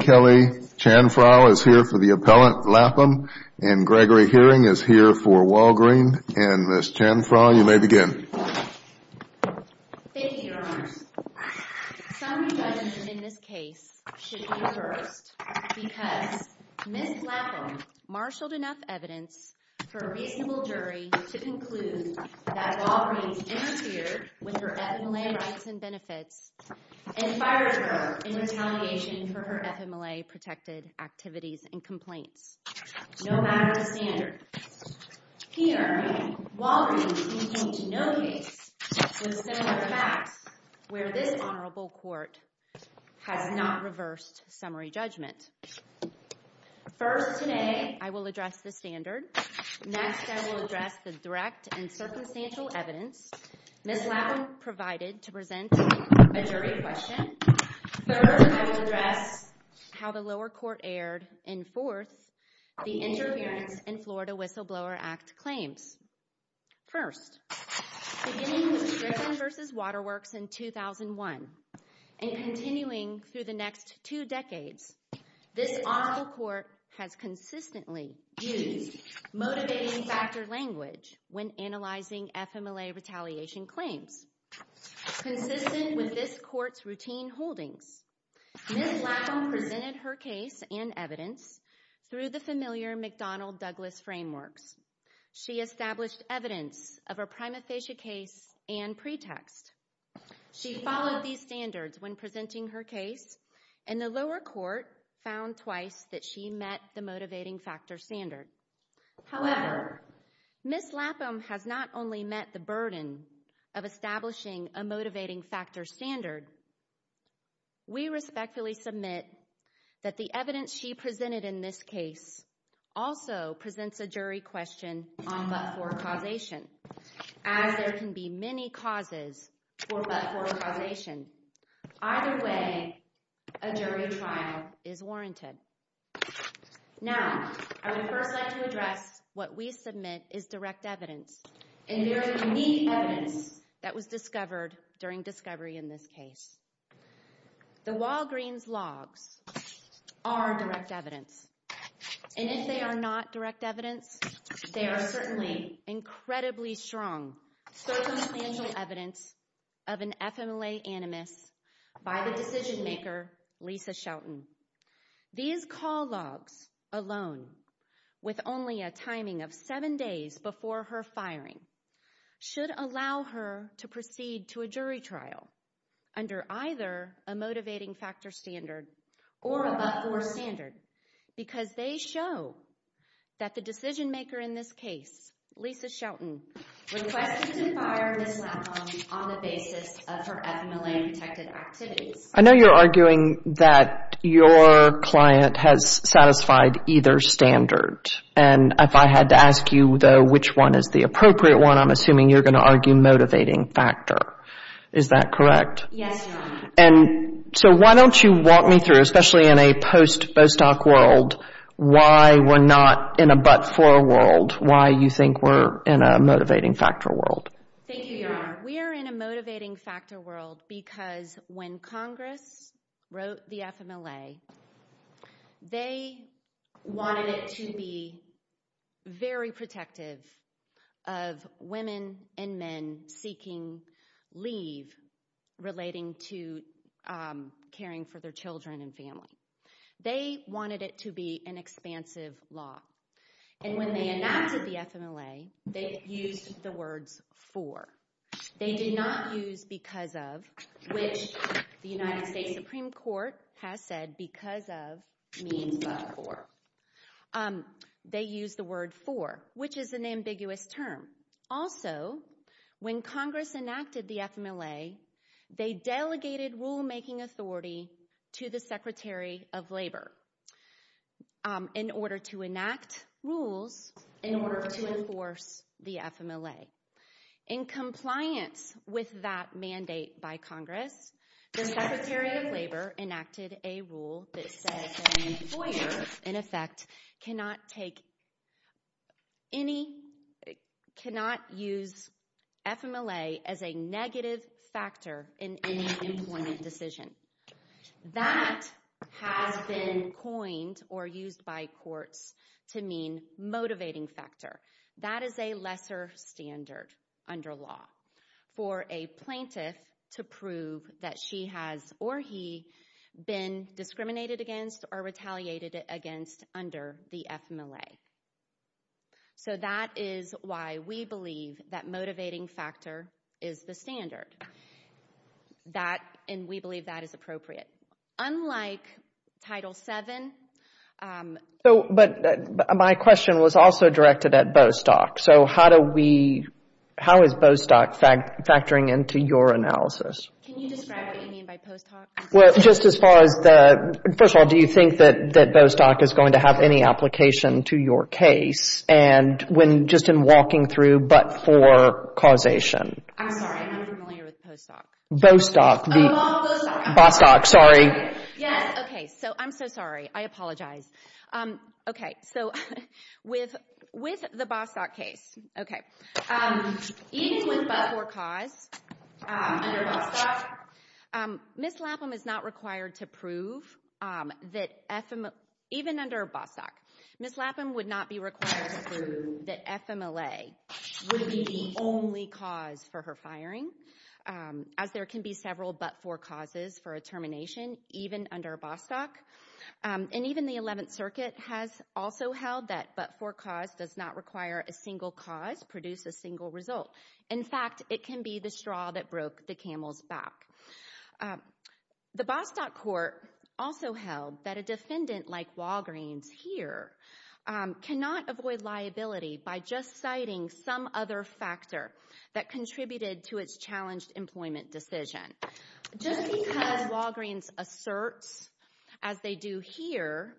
Kelly Chanfrau is here for the appellant Lapham, and Gregory Herring is here for Walgreen. And Ms. Chanfrau, you may begin. Thank you, Your Honors. Some revisions in this case should be reversed because Ms. Lapham marshaled enough evidence for a reasonable jury to conclude that Walgreens interfered with her FMLA rights and benefits and fired her in retaliation for her FMLA-protected activities and complaints, no matter the standards. Here, Walgreens can point to no case with similar facts where this honorable court has not reversed summary judgment. First, today, I will address the standard. Next, I will address the direct and circumstantial evidence Ms. Lapham provided to present a jury question. Third, I will address how the lower court aired. And fourth, the interference in Florida Whistleblower Act claims. First, beginning with Griffin v. Waterworks in 2001 and continuing through the next two decades, this honorable court has consistently used motivating factor language when analyzing FMLA retaliation claims. Consistent with this court's routine holdings, Ms. Lapham presented her case and evidence through the familiar McDonnell-Douglas frameworks. She established evidence of a prima facie case and pretext. She followed these standards when presenting her case, and the lower court found twice that she met the motivating factor standard. However, Ms. Lapham has not only met the burden of establishing a motivating factor standard, we respectfully submit that the evidence she presented in this case also presents a jury question on but-for causation, as there can be many causes for but-for causation. Either way, a jury trial is warranted. Now, I would first like to address what we submit is direct evidence, and there is unique evidence that was discovered during discovery in this case. The Walgreens logs are direct evidence, and if they are not direct evidence, they are certainly incredibly strong circumstantial evidence of an FMLA animus by the decision maker, Lisa Shelton. These call logs alone, with only a timing of seven days before her firing, should allow her to proceed to a jury trial under either a motivating factor standard or a but-for standard, because they show that the decision maker in this case, Lisa Shelton, requested to fire Ms. Lapham on the basis of her FMLA-protected activities. I know you're arguing that your client has satisfied either standard, and if I had to ask you, though, which one is the appropriate one, I'm assuming you're going to argue motivating factor. Is that correct? Yes, Your Honor. And so why don't you walk me through, especially in a post-Bostock world, why we're not in a but-for world, why you think we're in a motivating factor world. Thank you, Your Honor. We are in a motivating factor world because when Congress wrote the FMLA, they wanted it to be very protective of women and men seeking leave relating to caring for their children and family. They wanted it to be an expansive law. And when they enacted the FMLA, they used the words for. They did not use because of, which the United States Supreme Court has said because of means but for. They used the word for, which is an ambiguous term. Also, when Congress enacted the FMLA, they delegated rulemaking authority to the Secretary of Labor. In order to enact rules, in order to enforce the FMLA. In compliance with that mandate by Congress, the Secretary of Labor enacted a rule that says that an employer, in effect, cannot take any, cannot use FMLA as a negative factor in any employment decision. That has been coined or used by courts to mean motivating factor. That is a lesser standard under law for a plaintiff to prove that she has or he been discriminated against or retaliated against under the FMLA. So that is why we believe that motivating factor is the standard. That, and we believe that is appropriate. Unlike Title VII. So, but my question was also directed at Bostock. So how do we, how is Bostock factoring into your analysis? Can you describe what you mean by Bostock? Well, just as far as the, first of all, do you think that Bostock is going to have any application to your case? And when just in walking through but for causation. I'm sorry, I'm not familiar with Postock. Bostock. Oh, Bostock. Bostock, sorry. Yes, okay, so I'm so sorry. I apologize. Okay, so with the Bostock case, okay, even with but for cause, under Bostock, Ms. Lapham is not required to prove that, even under Bostock, Ms. Lapham would not be required to prove that FMLA would be the only cause for her firing, as there can be several but for causes for a termination, even under Bostock. And even the 11th Circuit has also held that but for cause does not require a single cause produce a single result. In fact, it can be the straw that broke the camel's back. The Bostock court also held that a defendant like Walgreens here cannot avoid liability by just citing some other factor that contributed to its challenged employment decision. Just because Walgreens asserts, as they do here,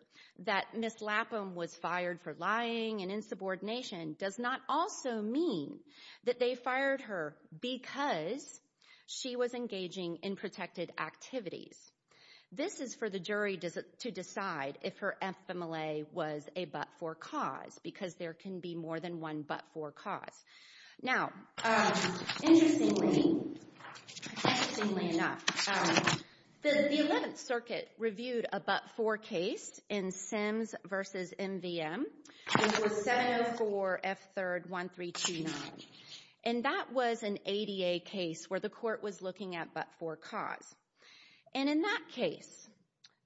that Ms. Lapham was fired for lying and insubordination does not also mean that they fired her because she was engaging in protected activities. This is for the jury to decide if her FMLA was a but for cause, because there can be more than one but for cause. Now, interestingly enough, the 11th Circuit reviewed a but for case in Sims v. MVM, which was 704 F. 3rd 1329. And that was an ADA case where the court was looking at but for cause. And in that case,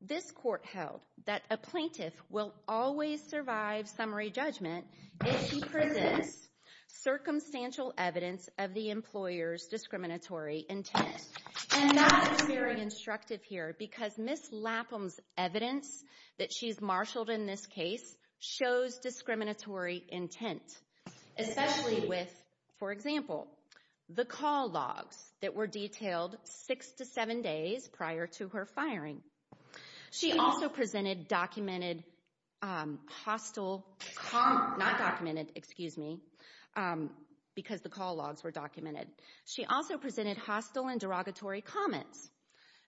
this court held that a plaintiff will always survive summary judgment if she presents circumstantial evidence of the employer's discriminatory intent. And that is very instructive here because Ms. Lapham's evidence that she's marshaled in this case shows discriminatory intent, especially with, for example, the call logs that were detailed six to seven days prior to her firing. She also presented documented hostile—not documented, excuse me, because the call logs were documented. She also presented hostile and derogatory comments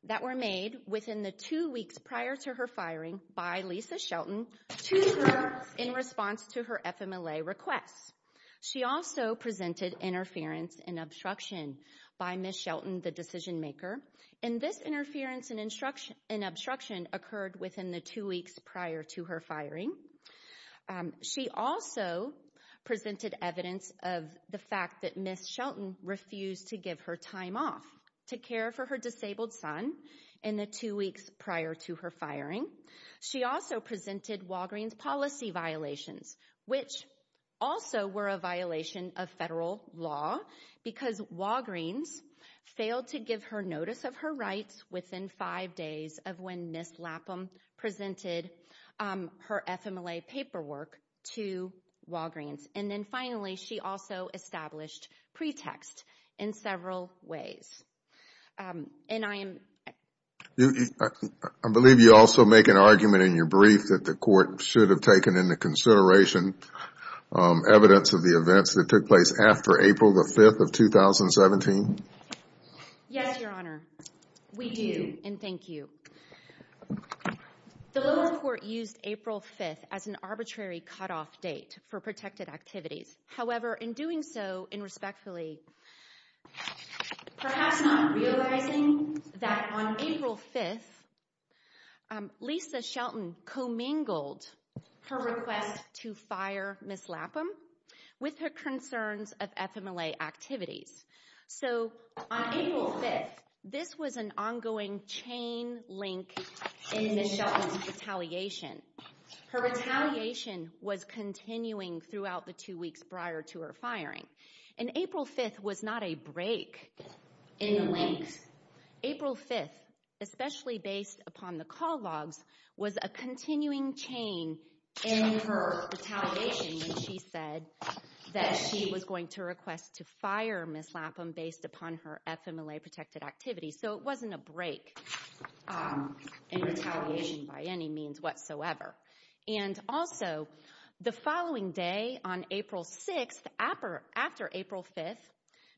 that were made within the two weeks prior to her firing by Lisa Shelton to the jurors in response to her FMLA requests. She also presented interference and obstruction by Ms. Shelton, the decision maker. And this interference and obstruction occurred within the two weeks prior to her firing. She also presented evidence of the fact that Ms. Shelton refused to give her time off to care for her disabled son in the two weeks prior to her firing. She also presented Walgreens policy violations, which also were a violation of federal law because Walgreens failed to give her notice of her rights within five days of when Ms. Lapham presented her FMLA paperwork to Walgreens. And then finally, she also established pretext in several ways. And I am— I believe you also make an argument in your brief that the court should have taken into consideration evidence of the events that took place after April the 5th of 2017. Yes, Your Honor. We do. And thank you. The lower court used April 5th as an arbitrary cutoff date for protected activities. However, in doing so, and respectfully, perhaps not realizing that on April 5th, Lisa Shelton commingled her request to fire Ms. Lapham with her concerns of FMLA activities. So on April 5th, this was an ongoing chain link in Ms. Shelton's retaliation. Her retaliation was continuing throughout the two weeks prior to her firing. And April 5th was not a break in the links. April 5th, especially based upon the call logs, was a continuing chain in her retaliation when she said that she was going to request to fire Ms. Lapham based upon her FMLA-protected activities. So it wasn't a break in retaliation by any means whatsoever. And also, the following day on April 6th, after April 5th,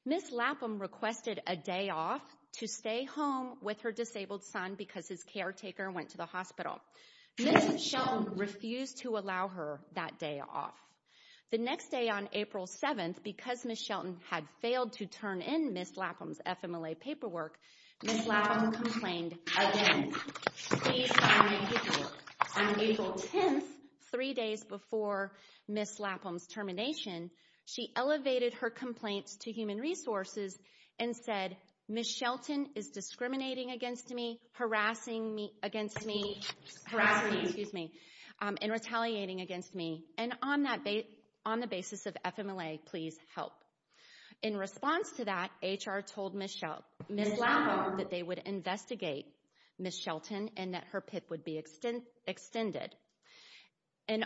Ms. Lapham requested a day off to stay home with her disabled son because his caretaker went to the hospital. Ms. Shelton refused to allow her that day off. The next day on April 7th, because Ms. Shelton had failed to turn in Ms. Lapham's FMLA paperwork, Ms. Lapham complained again. On April 10th, three days before Ms. Lapham's termination, she elevated her complaints to Human Resources and said, Ms. Shelton is discriminating against me, harassing me, and retaliating against me. And on the basis of FMLA, please help. In response to that, HR told Ms. Lapham that they would investigate Ms. Shelton and that her PIP would be extended. And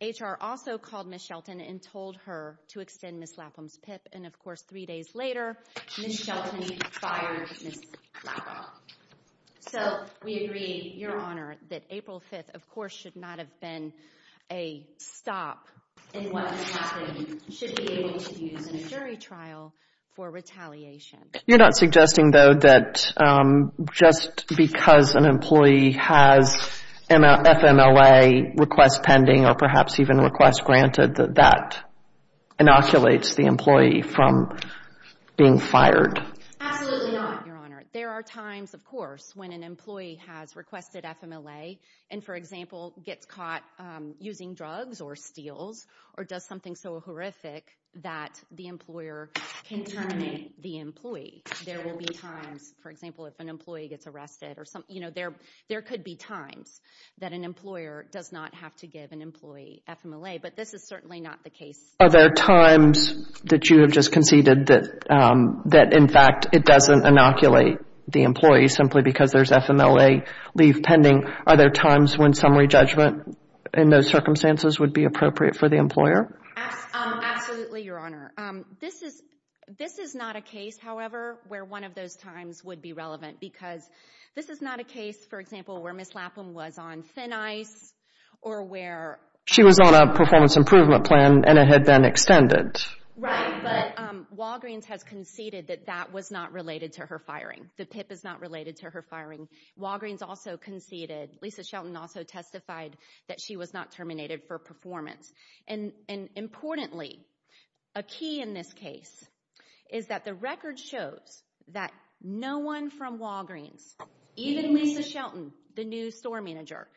HR also called Ms. Shelton and told her to extend Ms. Lapham's PIP. And, of course, three days later, Ms. Shelton fired Ms. Lapham. So, we agree, Your Honor, that April 5th, of course, should not have been a stop in what has happened. It should be able to be used in a jury trial for retaliation. You're not suggesting, though, that just because an employee has an FMLA request pending or perhaps even a request granted, that that inoculates the employee from being fired? Absolutely not, Your Honor. There are times, of course, when an employee has requested FMLA and, for example, gets caught using drugs or steals or does something so horrific that the employer can terminate the employee. There will be times, for example, if an employee gets arrested, there could be times that an employer does not have to give an employee FMLA, but this is certainly not the case. Are there times that you have just conceded that, in fact, it doesn't inoculate the employee simply because there's FMLA leave pending? Are there times when summary judgment in those circumstances would be appropriate for the employer? Absolutely, Your Honor. This is not a case, however, where one of those times would be relevant because this is not a case, for example, where Ms. Lapham was on thin ice or where... She was on a performance improvement plan and it had been extended. Right, but Walgreens has conceded that that was not related to her firing. The PIP is not related to her firing. Walgreens also conceded. Lisa Shelton also testified that she was not terminated for performance. Importantly, a key in this case is that the record shows that no one from Walgreens, even Lisa Shelton, the new store manager,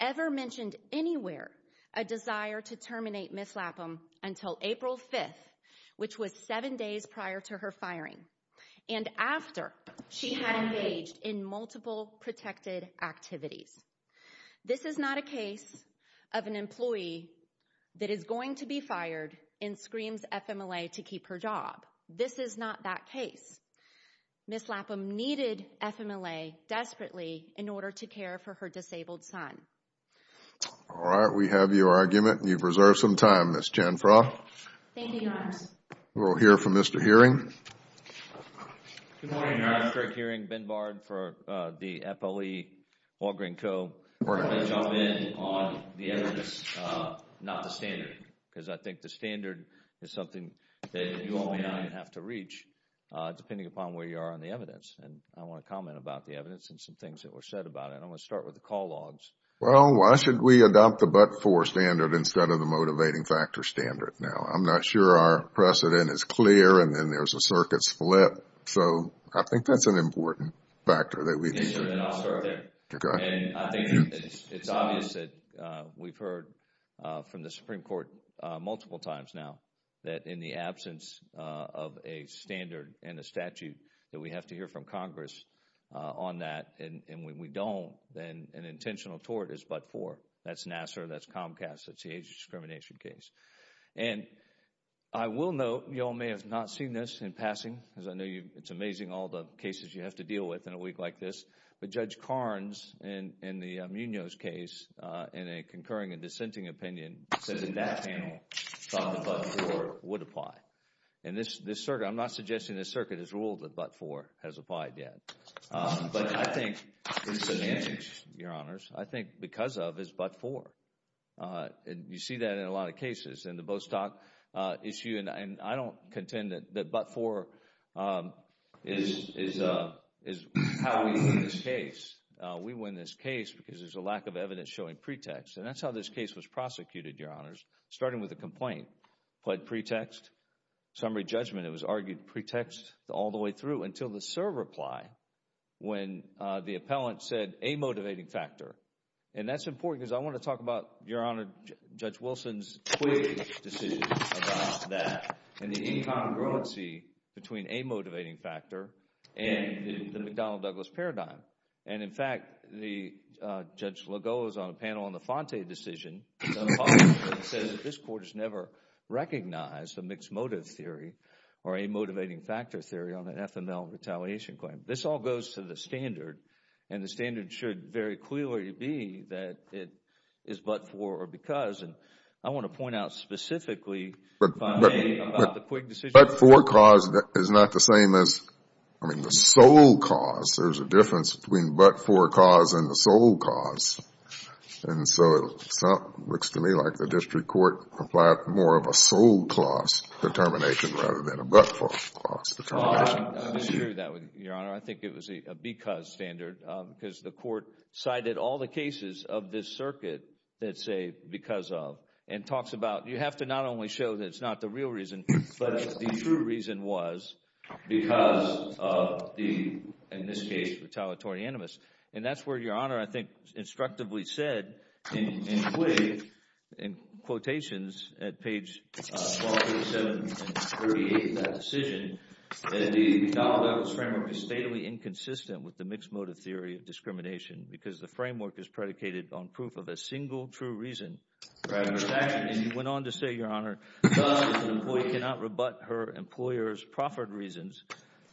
ever mentioned anywhere a desire to terminate Ms. Lapham until April 5th, which was seven days prior to her firing, and after she had engaged in multiple protected activities. This is not a case of an employee that is going to be fired and screams FMLA to keep her job. This is not that case. Ms. Lapham needed FMLA desperately in order to care for her disabled son. All right, we have your argument and you've reserved some time, Ms. Janfra. Thank you, Your Honor. We'll hear from Mr. Hearing. Good morning, Your Honor. Craig Hearing, Ben Bard for the FOE, Walgreens Co. Good morning. I want to jump in on the evidence, not the standard, because I think the standard is something that you all may not even have to reach, depending upon where you are on the evidence. And I want to comment about the evidence and some things that were said about it. I want to start with the call logs. Well, why should we adopt the but-for standard instead of the motivating factor standard now? I'm not sure our precedent is clear, and then there's a circuit split. So I think that's an important factor that we need to— Yes, Your Honor, and I'll start there. Okay. And I think it's obvious that we've heard from the Supreme Court multiple times now that in the absence of a standard and a statute that we have to hear from Congress on that, and when we don't, then an intentional tort is but-for. That's Nassar, that's Comcast, that's the age discrimination case. And I will note, you all may have not seen this in passing, because I know it's amazing all the cases you have to deal with in a week like this, but Judge Carnes in the Munoz case, in a concurring and dissenting opinion, said that panel thought that but-for would apply. And this circuit—I'm not suggesting this circuit has ruled that but-for has applied yet. But I think it's an issue, Your Honors. I think because of is but-for. You see that in a lot of cases in the Bostock issue, and I don't contend that but-for is how we win this case. We win this case because there's a lack of evidence showing pretext. And that's how this case was prosecuted, Your Honors, starting with a complaint. Applied pretext, summary judgment, it was argued pretext all the way through until the serve reply when the appellant said a motivating factor. And that's important because I want to talk about, Your Honor, Judge Wilson's quick decision about that and the incongruency between a motivating factor and the McDonnell-Douglas paradigm. And, in fact, Judge Legault was on a panel on the Fante decision, said that this court has never recognized a mixed motive theory or a motivating factor theory on an FML retaliation claim. This all goes to the standard, and the standard should very clearly be that it is but-for or because. And I want to point out specifically about the quick decision. But-for cause is not the same as, I mean, the sole cause. There's a difference between but-for cause and the sole cause. And so it looks to me like the district court applied more of a sole cause determination rather than a but-for cause determination. Your Honor, I think it was a because standard because the court cited all the cases of this circuit that say because of and talks about you have to not only show that it's not the real reason, but the true reason was because of the, in this case, retaliatory animus. And that's where Your Honor, I think, instructively said, and put it in quotations at page 27 and 38 of that decision, that the Donald Douglas framework is stately inconsistent with the mixed motive theory of discrimination because the framework is predicated on proof of a single true reason for adverse action. And he went on to say, Your Honor, thus an employee cannot rebut her employer's proffered reasons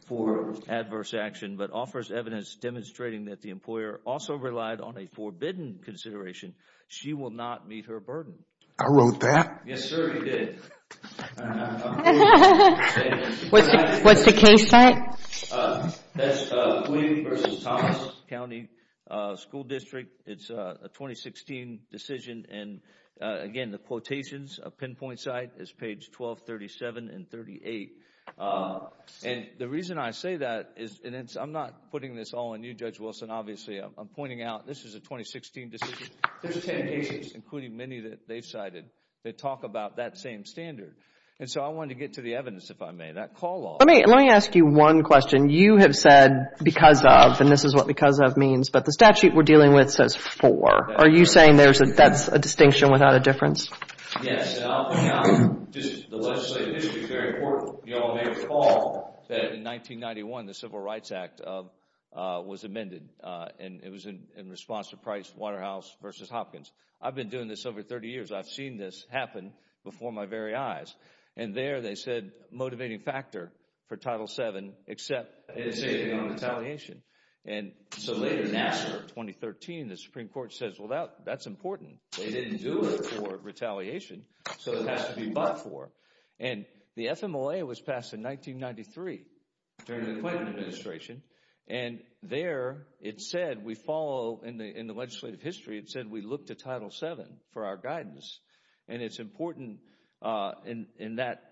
for adverse action, but offers evidence demonstrating that the employer also relied on a forbidden consideration. She will not meet her burden. I wrote that. Yes, sir, you did. What's the case site? That's Queen v. Thomas County School District. It's a 2016 decision. And again, the quotations, a pinpoint site is page 12, 37, and 38. And the reason I say that is I'm not putting this all on you, Judge Wilson. Obviously, I'm pointing out this is a 2016 decision. There's 10 cases, including many that they've cited, that talk about that same standard. And so I wanted to get to the evidence, if I may. That call law. Let me ask you one question. You have said because of, and this is what because of means, but the statute we're dealing with says for. Are you saying that's a distinction without a difference? Yes. The legislative history is very important. You all may recall that in 1991, the Civil Rights Act was amended, and it was in response to Price Waterhouse v. Hopkins. I've been doing this over 30 years. I've seen this happen before my very eyes. And there they said motivating factor for Title VII, except it's a non-retaliation. And so later in Nassar in 2013, the Supreme Court says, well, that's important. They didn't do it for retaliation, so it has to be but for. And the FMLA was passed in 1993 during the Clinton administration. And there it said we follow in the legislative history, it said we look to Title VII for our guidance. And it's important in that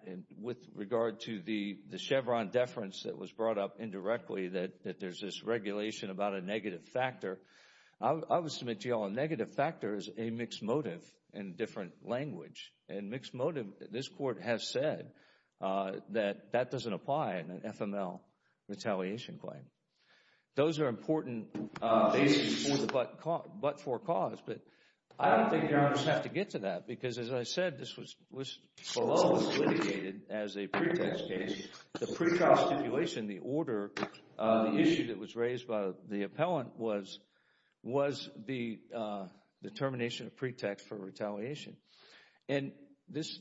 with regard to the Chevron deference that was brought up indirectly, that there's this regulation about a negative factor. I would submit to you all a negative factor is a mixed motive in a different language. And mixed motive, this Court has said that that doesn't apply in an FMLA retaliation claim. Those are important bases for the but for cause. But I don't think Your Honors have to get to that because, as I said, this was below what was litigated as a pretext case. The pre-trial stipulation, the order, the issue that was raised by the appellant was the termination of pretext for retaliation. And this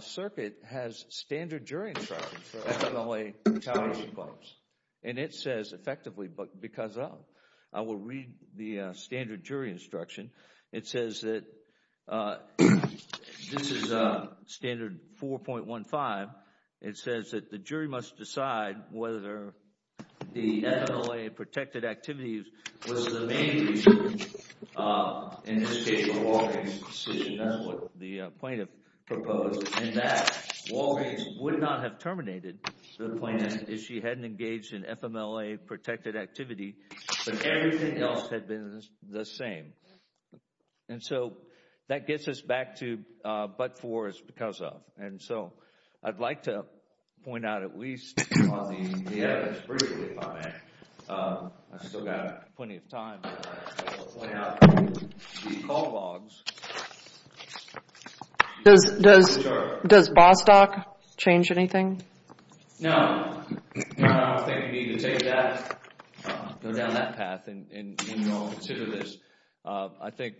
circuit has standard jury instructions for FMLA retaliation claims. And it says effectively because of, I will read the standard jury instruction. It says that this is standard 4.15. It says that the jury must decide whether the FMLA protected activities was the main reason, in this case, for Walgreens' decision. That's what the plaintiff proposed. And that Walgreens would not have terminated the plaintiff if she hadn't engaged in FMLA protected activity. But everything else had been the same. And so that gets us back to but for is because of. And so I'd like to point out at least on the evidence briefly, if I may. I've still got plenty of time. I'll point out the call logs. Does Bostock change anything? No. I don't think you need to take that, go down that path and consider this. I think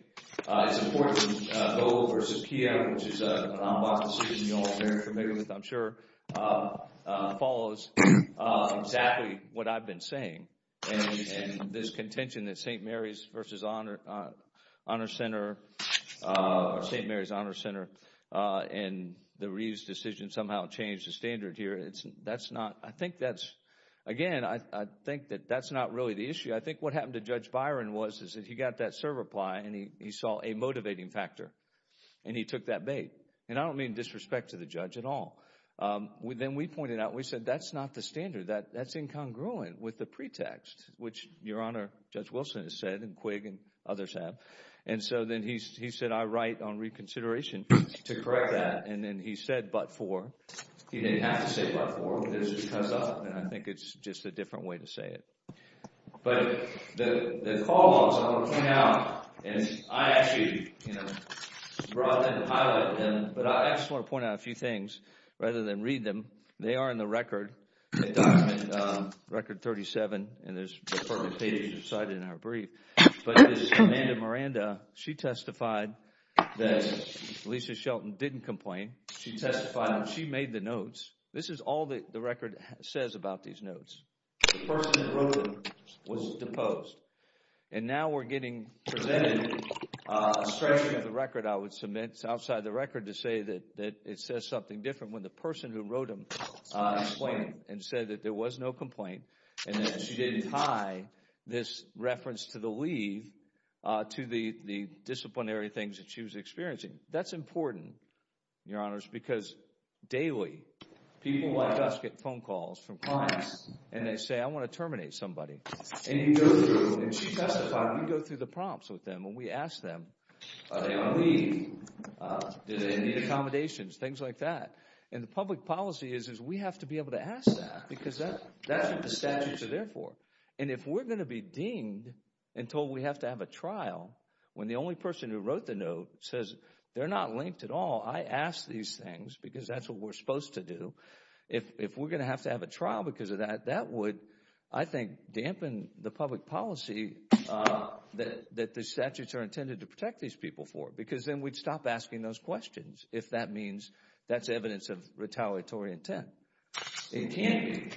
it's important that Bo versus Kia, which is an en bas decision you're all very familiar with, I'm sure, follows exactly what I've been saying. And this contention that St. Mary's Honor Center and the Reeves decision somehow changed the standard here. That's not, I think that's, again, I think that that's not really the issue. I think what happened to Judge Byron was that he got that serve reply and he saw a motivating factor and he took that bait. And I don't mean disrespect to the judge at all. Then we pointed out, we said that's not the standard. That's incongruent with the pretext, which Your Honor, Judge Wilson has said and Quigg and others have. And so then he said I write on reconsideration to correct that. And then he said but for. He didn't have to say but for. It was because of. And I think it's just a different way to say it. But the call logs came out and I actually brought them and highlighted them. But I just want to point out a few things rather than read them. They are in the record, the document record 37. And there's perfect pages recited in our brief. But this Amanda Miranda, she testified that Lisa Shelton didn't complain. She testified and she made the notes. This is all the record says about these notes. The person who wrote them was deposed. And now we're getting presented a stretch of the record, I would submit, outside the record to say that it says something different when the person who wrote them explained and said that there was no complaint and that she didn't tie this reference to the leave to the disciplinary things that she was experiencing. That's important, Your Honors, because daily people like us get phone calls from clients. And they say I want to terminate somebody. And you go through and she testified. We go through the prompts with them and we ask them are they on leave? Do they need accommodations? Things like that. And the public policy is we have to be able to ask that because that's what the statutes are there for. And if we're going to be deemed and told we have to have a trial when the only person who wrote the note says they're not linked at all, I ask these things because that's what we're supposed to do. If we're going to have to have a trial because of that, that would, I think, dampen the public policy that the statutes are intended to protect these people for because then we'd stop asking those questions if that means that's evidence of retaliatory intent. It can't be.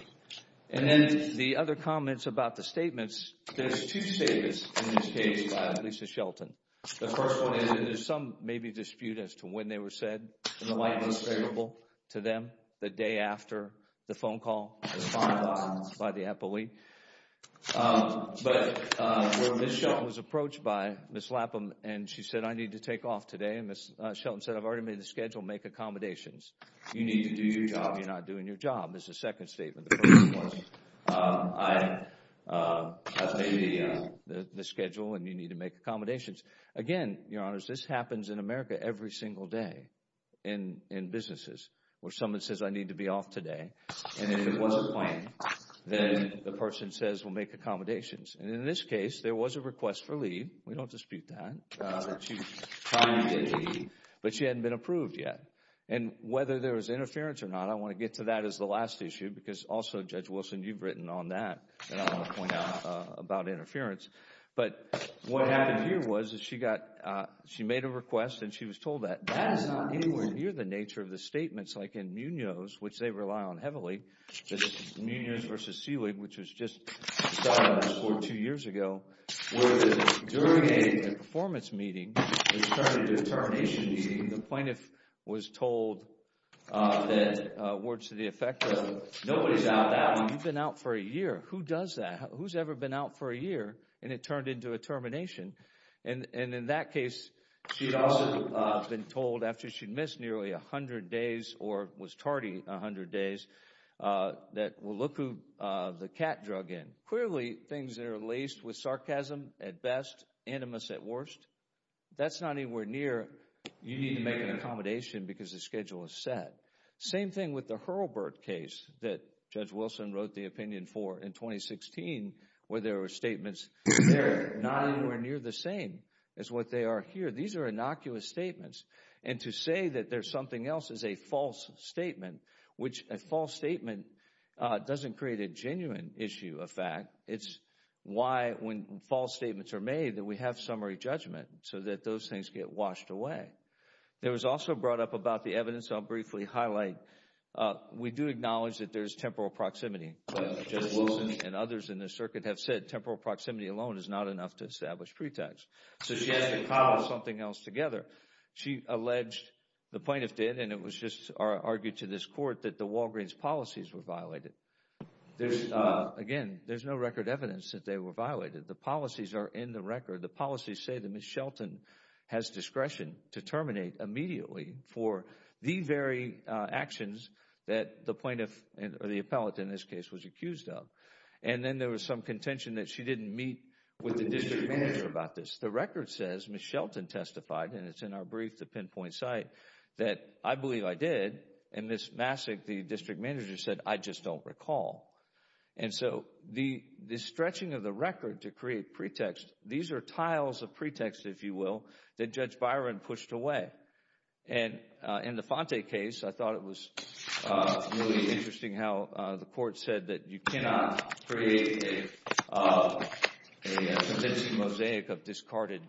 And then the other comments about the statements, there's two statements in this case by Lisa Shelton. The first one is that there's some maybe dispute as to when they were said in the light most favorable to them, the day after the phone call was responded by the appellee. But where Ms. Shelton was approached by Ms. Lapham and she said I need to take off today, and Ms. Shelton said I've already made the schedule, make accommodations. You need to do your job. You're not doing your job. This is the second statement. The first one was I've made the schedule and you need to make accommodations. Again, Your Honors, this happens in America every single day in businesses where someone says I need to be off today. And if it wasn't planned, then the person says we'll make accommodations. And in this case, there was a request for leave. We don't dispute that, that she finally did leave, but she hadn't been approved yet. And whether there was interference or not, I want to get to that as the last issue because also, Judge Wilson, you've written on that and I want to point out about interference. But what happened here was that she made a request and she was told that that is not anywhere near the nature of the statements, like in Munoz, which they rely on heavily. This is Munoz v. Seelig, which was just filed in this court two years ago, where during a performance meeting, a determination meeting, the plaintiff was told that words to the effect of nobody's out now. You've been out for a year. Who does that? Who's ever been out for a year? And it turned into a termination. And in that case, she'd also been told after she'd missed nearly 100 days or was tardy 100 days, that we'll look through the cat drug end. Clearly, things are laced with sarcasm at best, animus at worst. That's not anywhere near you need to make an accommodation because the schedule is set. Same thing with the Hurlbert case that Judge Wilson wrote the opinion for in 2016, where there were statements. They're not anywhere near the same as what they are here. These are innocuous statements. And to say that there's something else is a false statement, which a false statement doesn't create a genuine issue of fact. It's why when false statements are made that we have summary judgment so that those things get washed away. There was also brought up about the evidence. I'll briefly highlight. We do acknowledge that there is temporal proximity. Judge Wilson and others in the circuit have said temporal proximity alone is not enough to establish pretext. So she has to cobble something else together. She alleged, the plaintiff did, and it was just argued to this court that the Walgreens policies were violated. Again, there's no record evidence that they were violated. The policies are in the record. The policies say that Ms. Shelton has discretion to terminate immediately for the very actions that the plaintiff or the appellate in this case was accused of. And then there was some contention that she didn't meet with the district manager about this. The record says Ms. Shelton testified, and it's in our brief, the pinpoint site, that I believe I did. And Ms. Massick, the district manager, said I just don't recall. And so the stretching of the record to create pretext, these are tiles of pretext, if you will, that Judge Byron pushed away. And in the Fonte case, I thought it was really interesting how the court said that you cannot create a convincing mosaic of discarded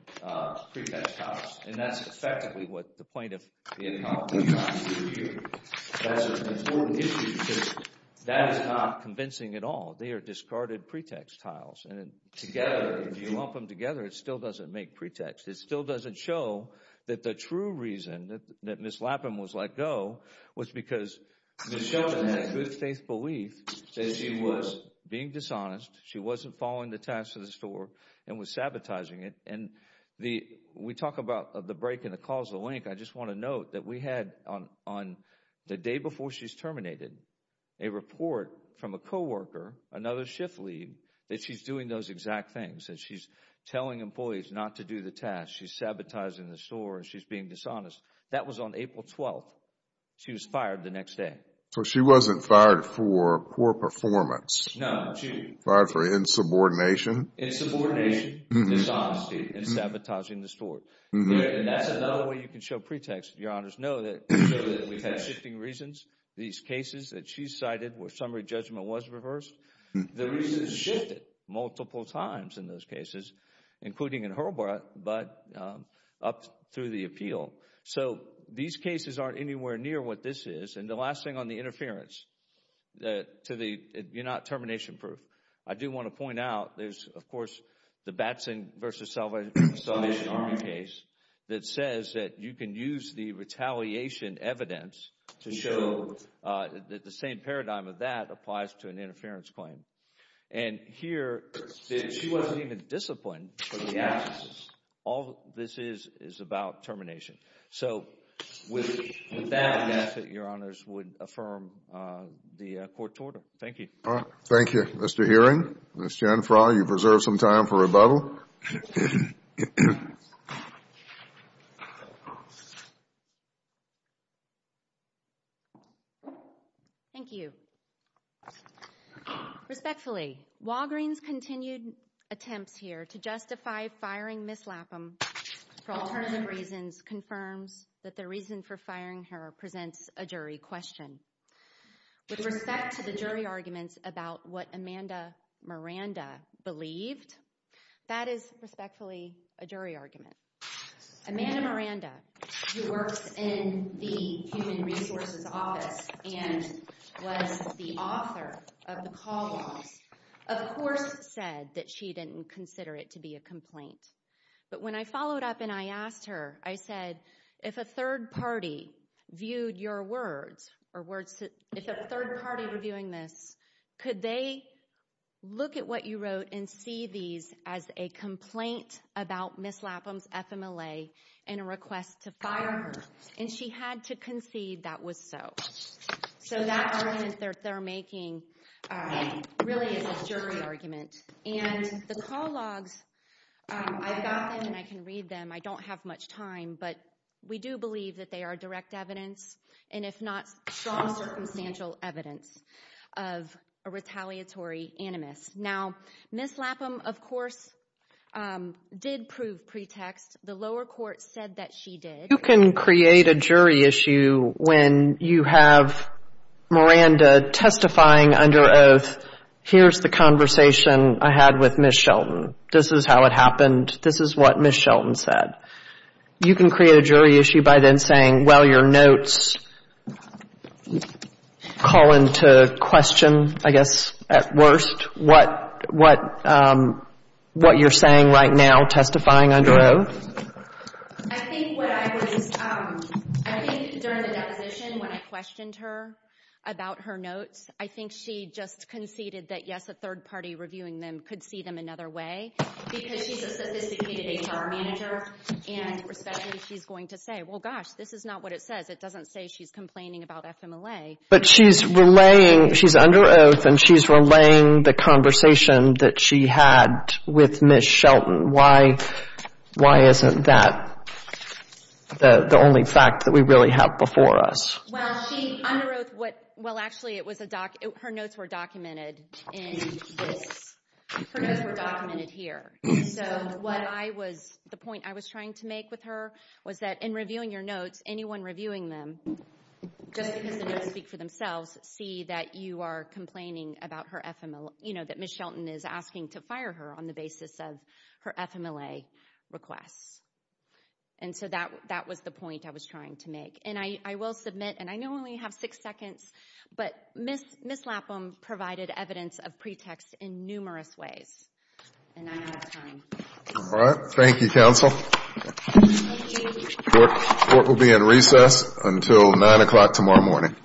pretext tiles. And that's effectively what the plaintiff did. That's an important issue because that is not convincing at all. They are discarded pretext tiles. And together, if you lump them together, it still doesn't make pretext. It still doesn't show that the true reason that Ms. Lapham was let go was because Ms. Shelton had a true faith belief that she was being dishonest. She wasn't following the tasks of the store and was sabotaging it. And we talk about the break in the causal link. I just want to note that we had on the day before she's terminated, a report from a co-worker, another shift lead, that she's doing those exact things. That she's telling employees not to do the tasks. She's sabotaging the store. She's being dishonest. That was on April 12th. She was fired the next day. So she wasn't fired for poor performance. No. Fired for insubordination. Insubordination, dishonesty, and sabotaging the store. And that's another way you can show pretext. Your Honors, know that we've had shifting reasons. These cases that she's cited where summary judgment was reversed. The reasons shifted multiple times in those cases, including in Hurlbut, but up through the appeal. So these cases aren't anywhere near what this is. And the last thing on the interference. You're not termination proof. I do want to point out, there's, of course, the Batson v. Salvation Army case that says that you can use the retaliation evidence to show that the same paradigm of that applies to an interference claim. And here, she wasn't even disciplined for the absences. All this is is about termination. So with that, I would ask that Your Honors would affirm the court order. Thank you. All right. Thank you. Mr. Hearing, Ms. Janfra, you've reserved some time for rebuttal. Thank you. Respectfully, Walgreen's continued attempts here to justify firing Ms. Lapham for alternative reasons confirms that the reason for firing her presents a jury question. With respect to the jury arguments about what Amanda Miranda believed, that is respectfully a jury argument. Amanda Miranda, who works in the Human Resources Office and was the author of the call logs, of course said that she didn't consider it to be a complaint. But when I followed up and I asked her, I said, if a third party viewed your words, or if a third party were viewing this, could they look at what you wrote and see these as a complaint about Ms. Lapham's FMLA and a request to fire her? And she had to concede that was so. So that argument they're making really is a jury argument. And the call logs, I've got them and I can read them. I don't have much time. But we do believe that they are direct evidence, and if not strong circumstantial evidence, of a retaliatory animus. Now, Ms. Lapham, of course, did prove pretext. The lower court said that she did. You can create a jury issue when you have Miranda testifying under oath, here's the conversation I had with Ms. Shelton. This is how it happened. This is what Ms. Shelton said. You can create a jury issue by then saying, well, your notes call into question, I guess, at worst, what you're saying right now, testifying under oath. I think what I was, I think during the deposition when I questioned her about her notes, I think she just conceded that, yes, a third party reviewing them could see them another way. Because she's a sophisticated HR manager, and especially she's going to say, well, gosh, this is not what it says. It doesn't say she's complaining about FMLA. But she's relaying, she's under oath, and she's relaying the conversation that she had with Ms. Shelton. Why isn't that the only fact that we really have before us? Well, she under oath, well, actually, her notes were documented in this. Her notes were documented here. So what I was, the point I was trying to make with her was that in reviewing your notes, anyone reviewing them, just because the notes speak for themselves, see that you are complaining about her FMLA, you know, that Ms. Shelton is asking to fire her on the basis of her FMLA requests. And so that was the point I was trying to make. And I will submit, and I know I only have six seconds, but Ms. Lapham provided evidence of pretext in numerous ways. And I'm out of time. All right. Thank you, counsel. Thank you. Court will be in recess until 9 o'clock tomorrow morning. All rise.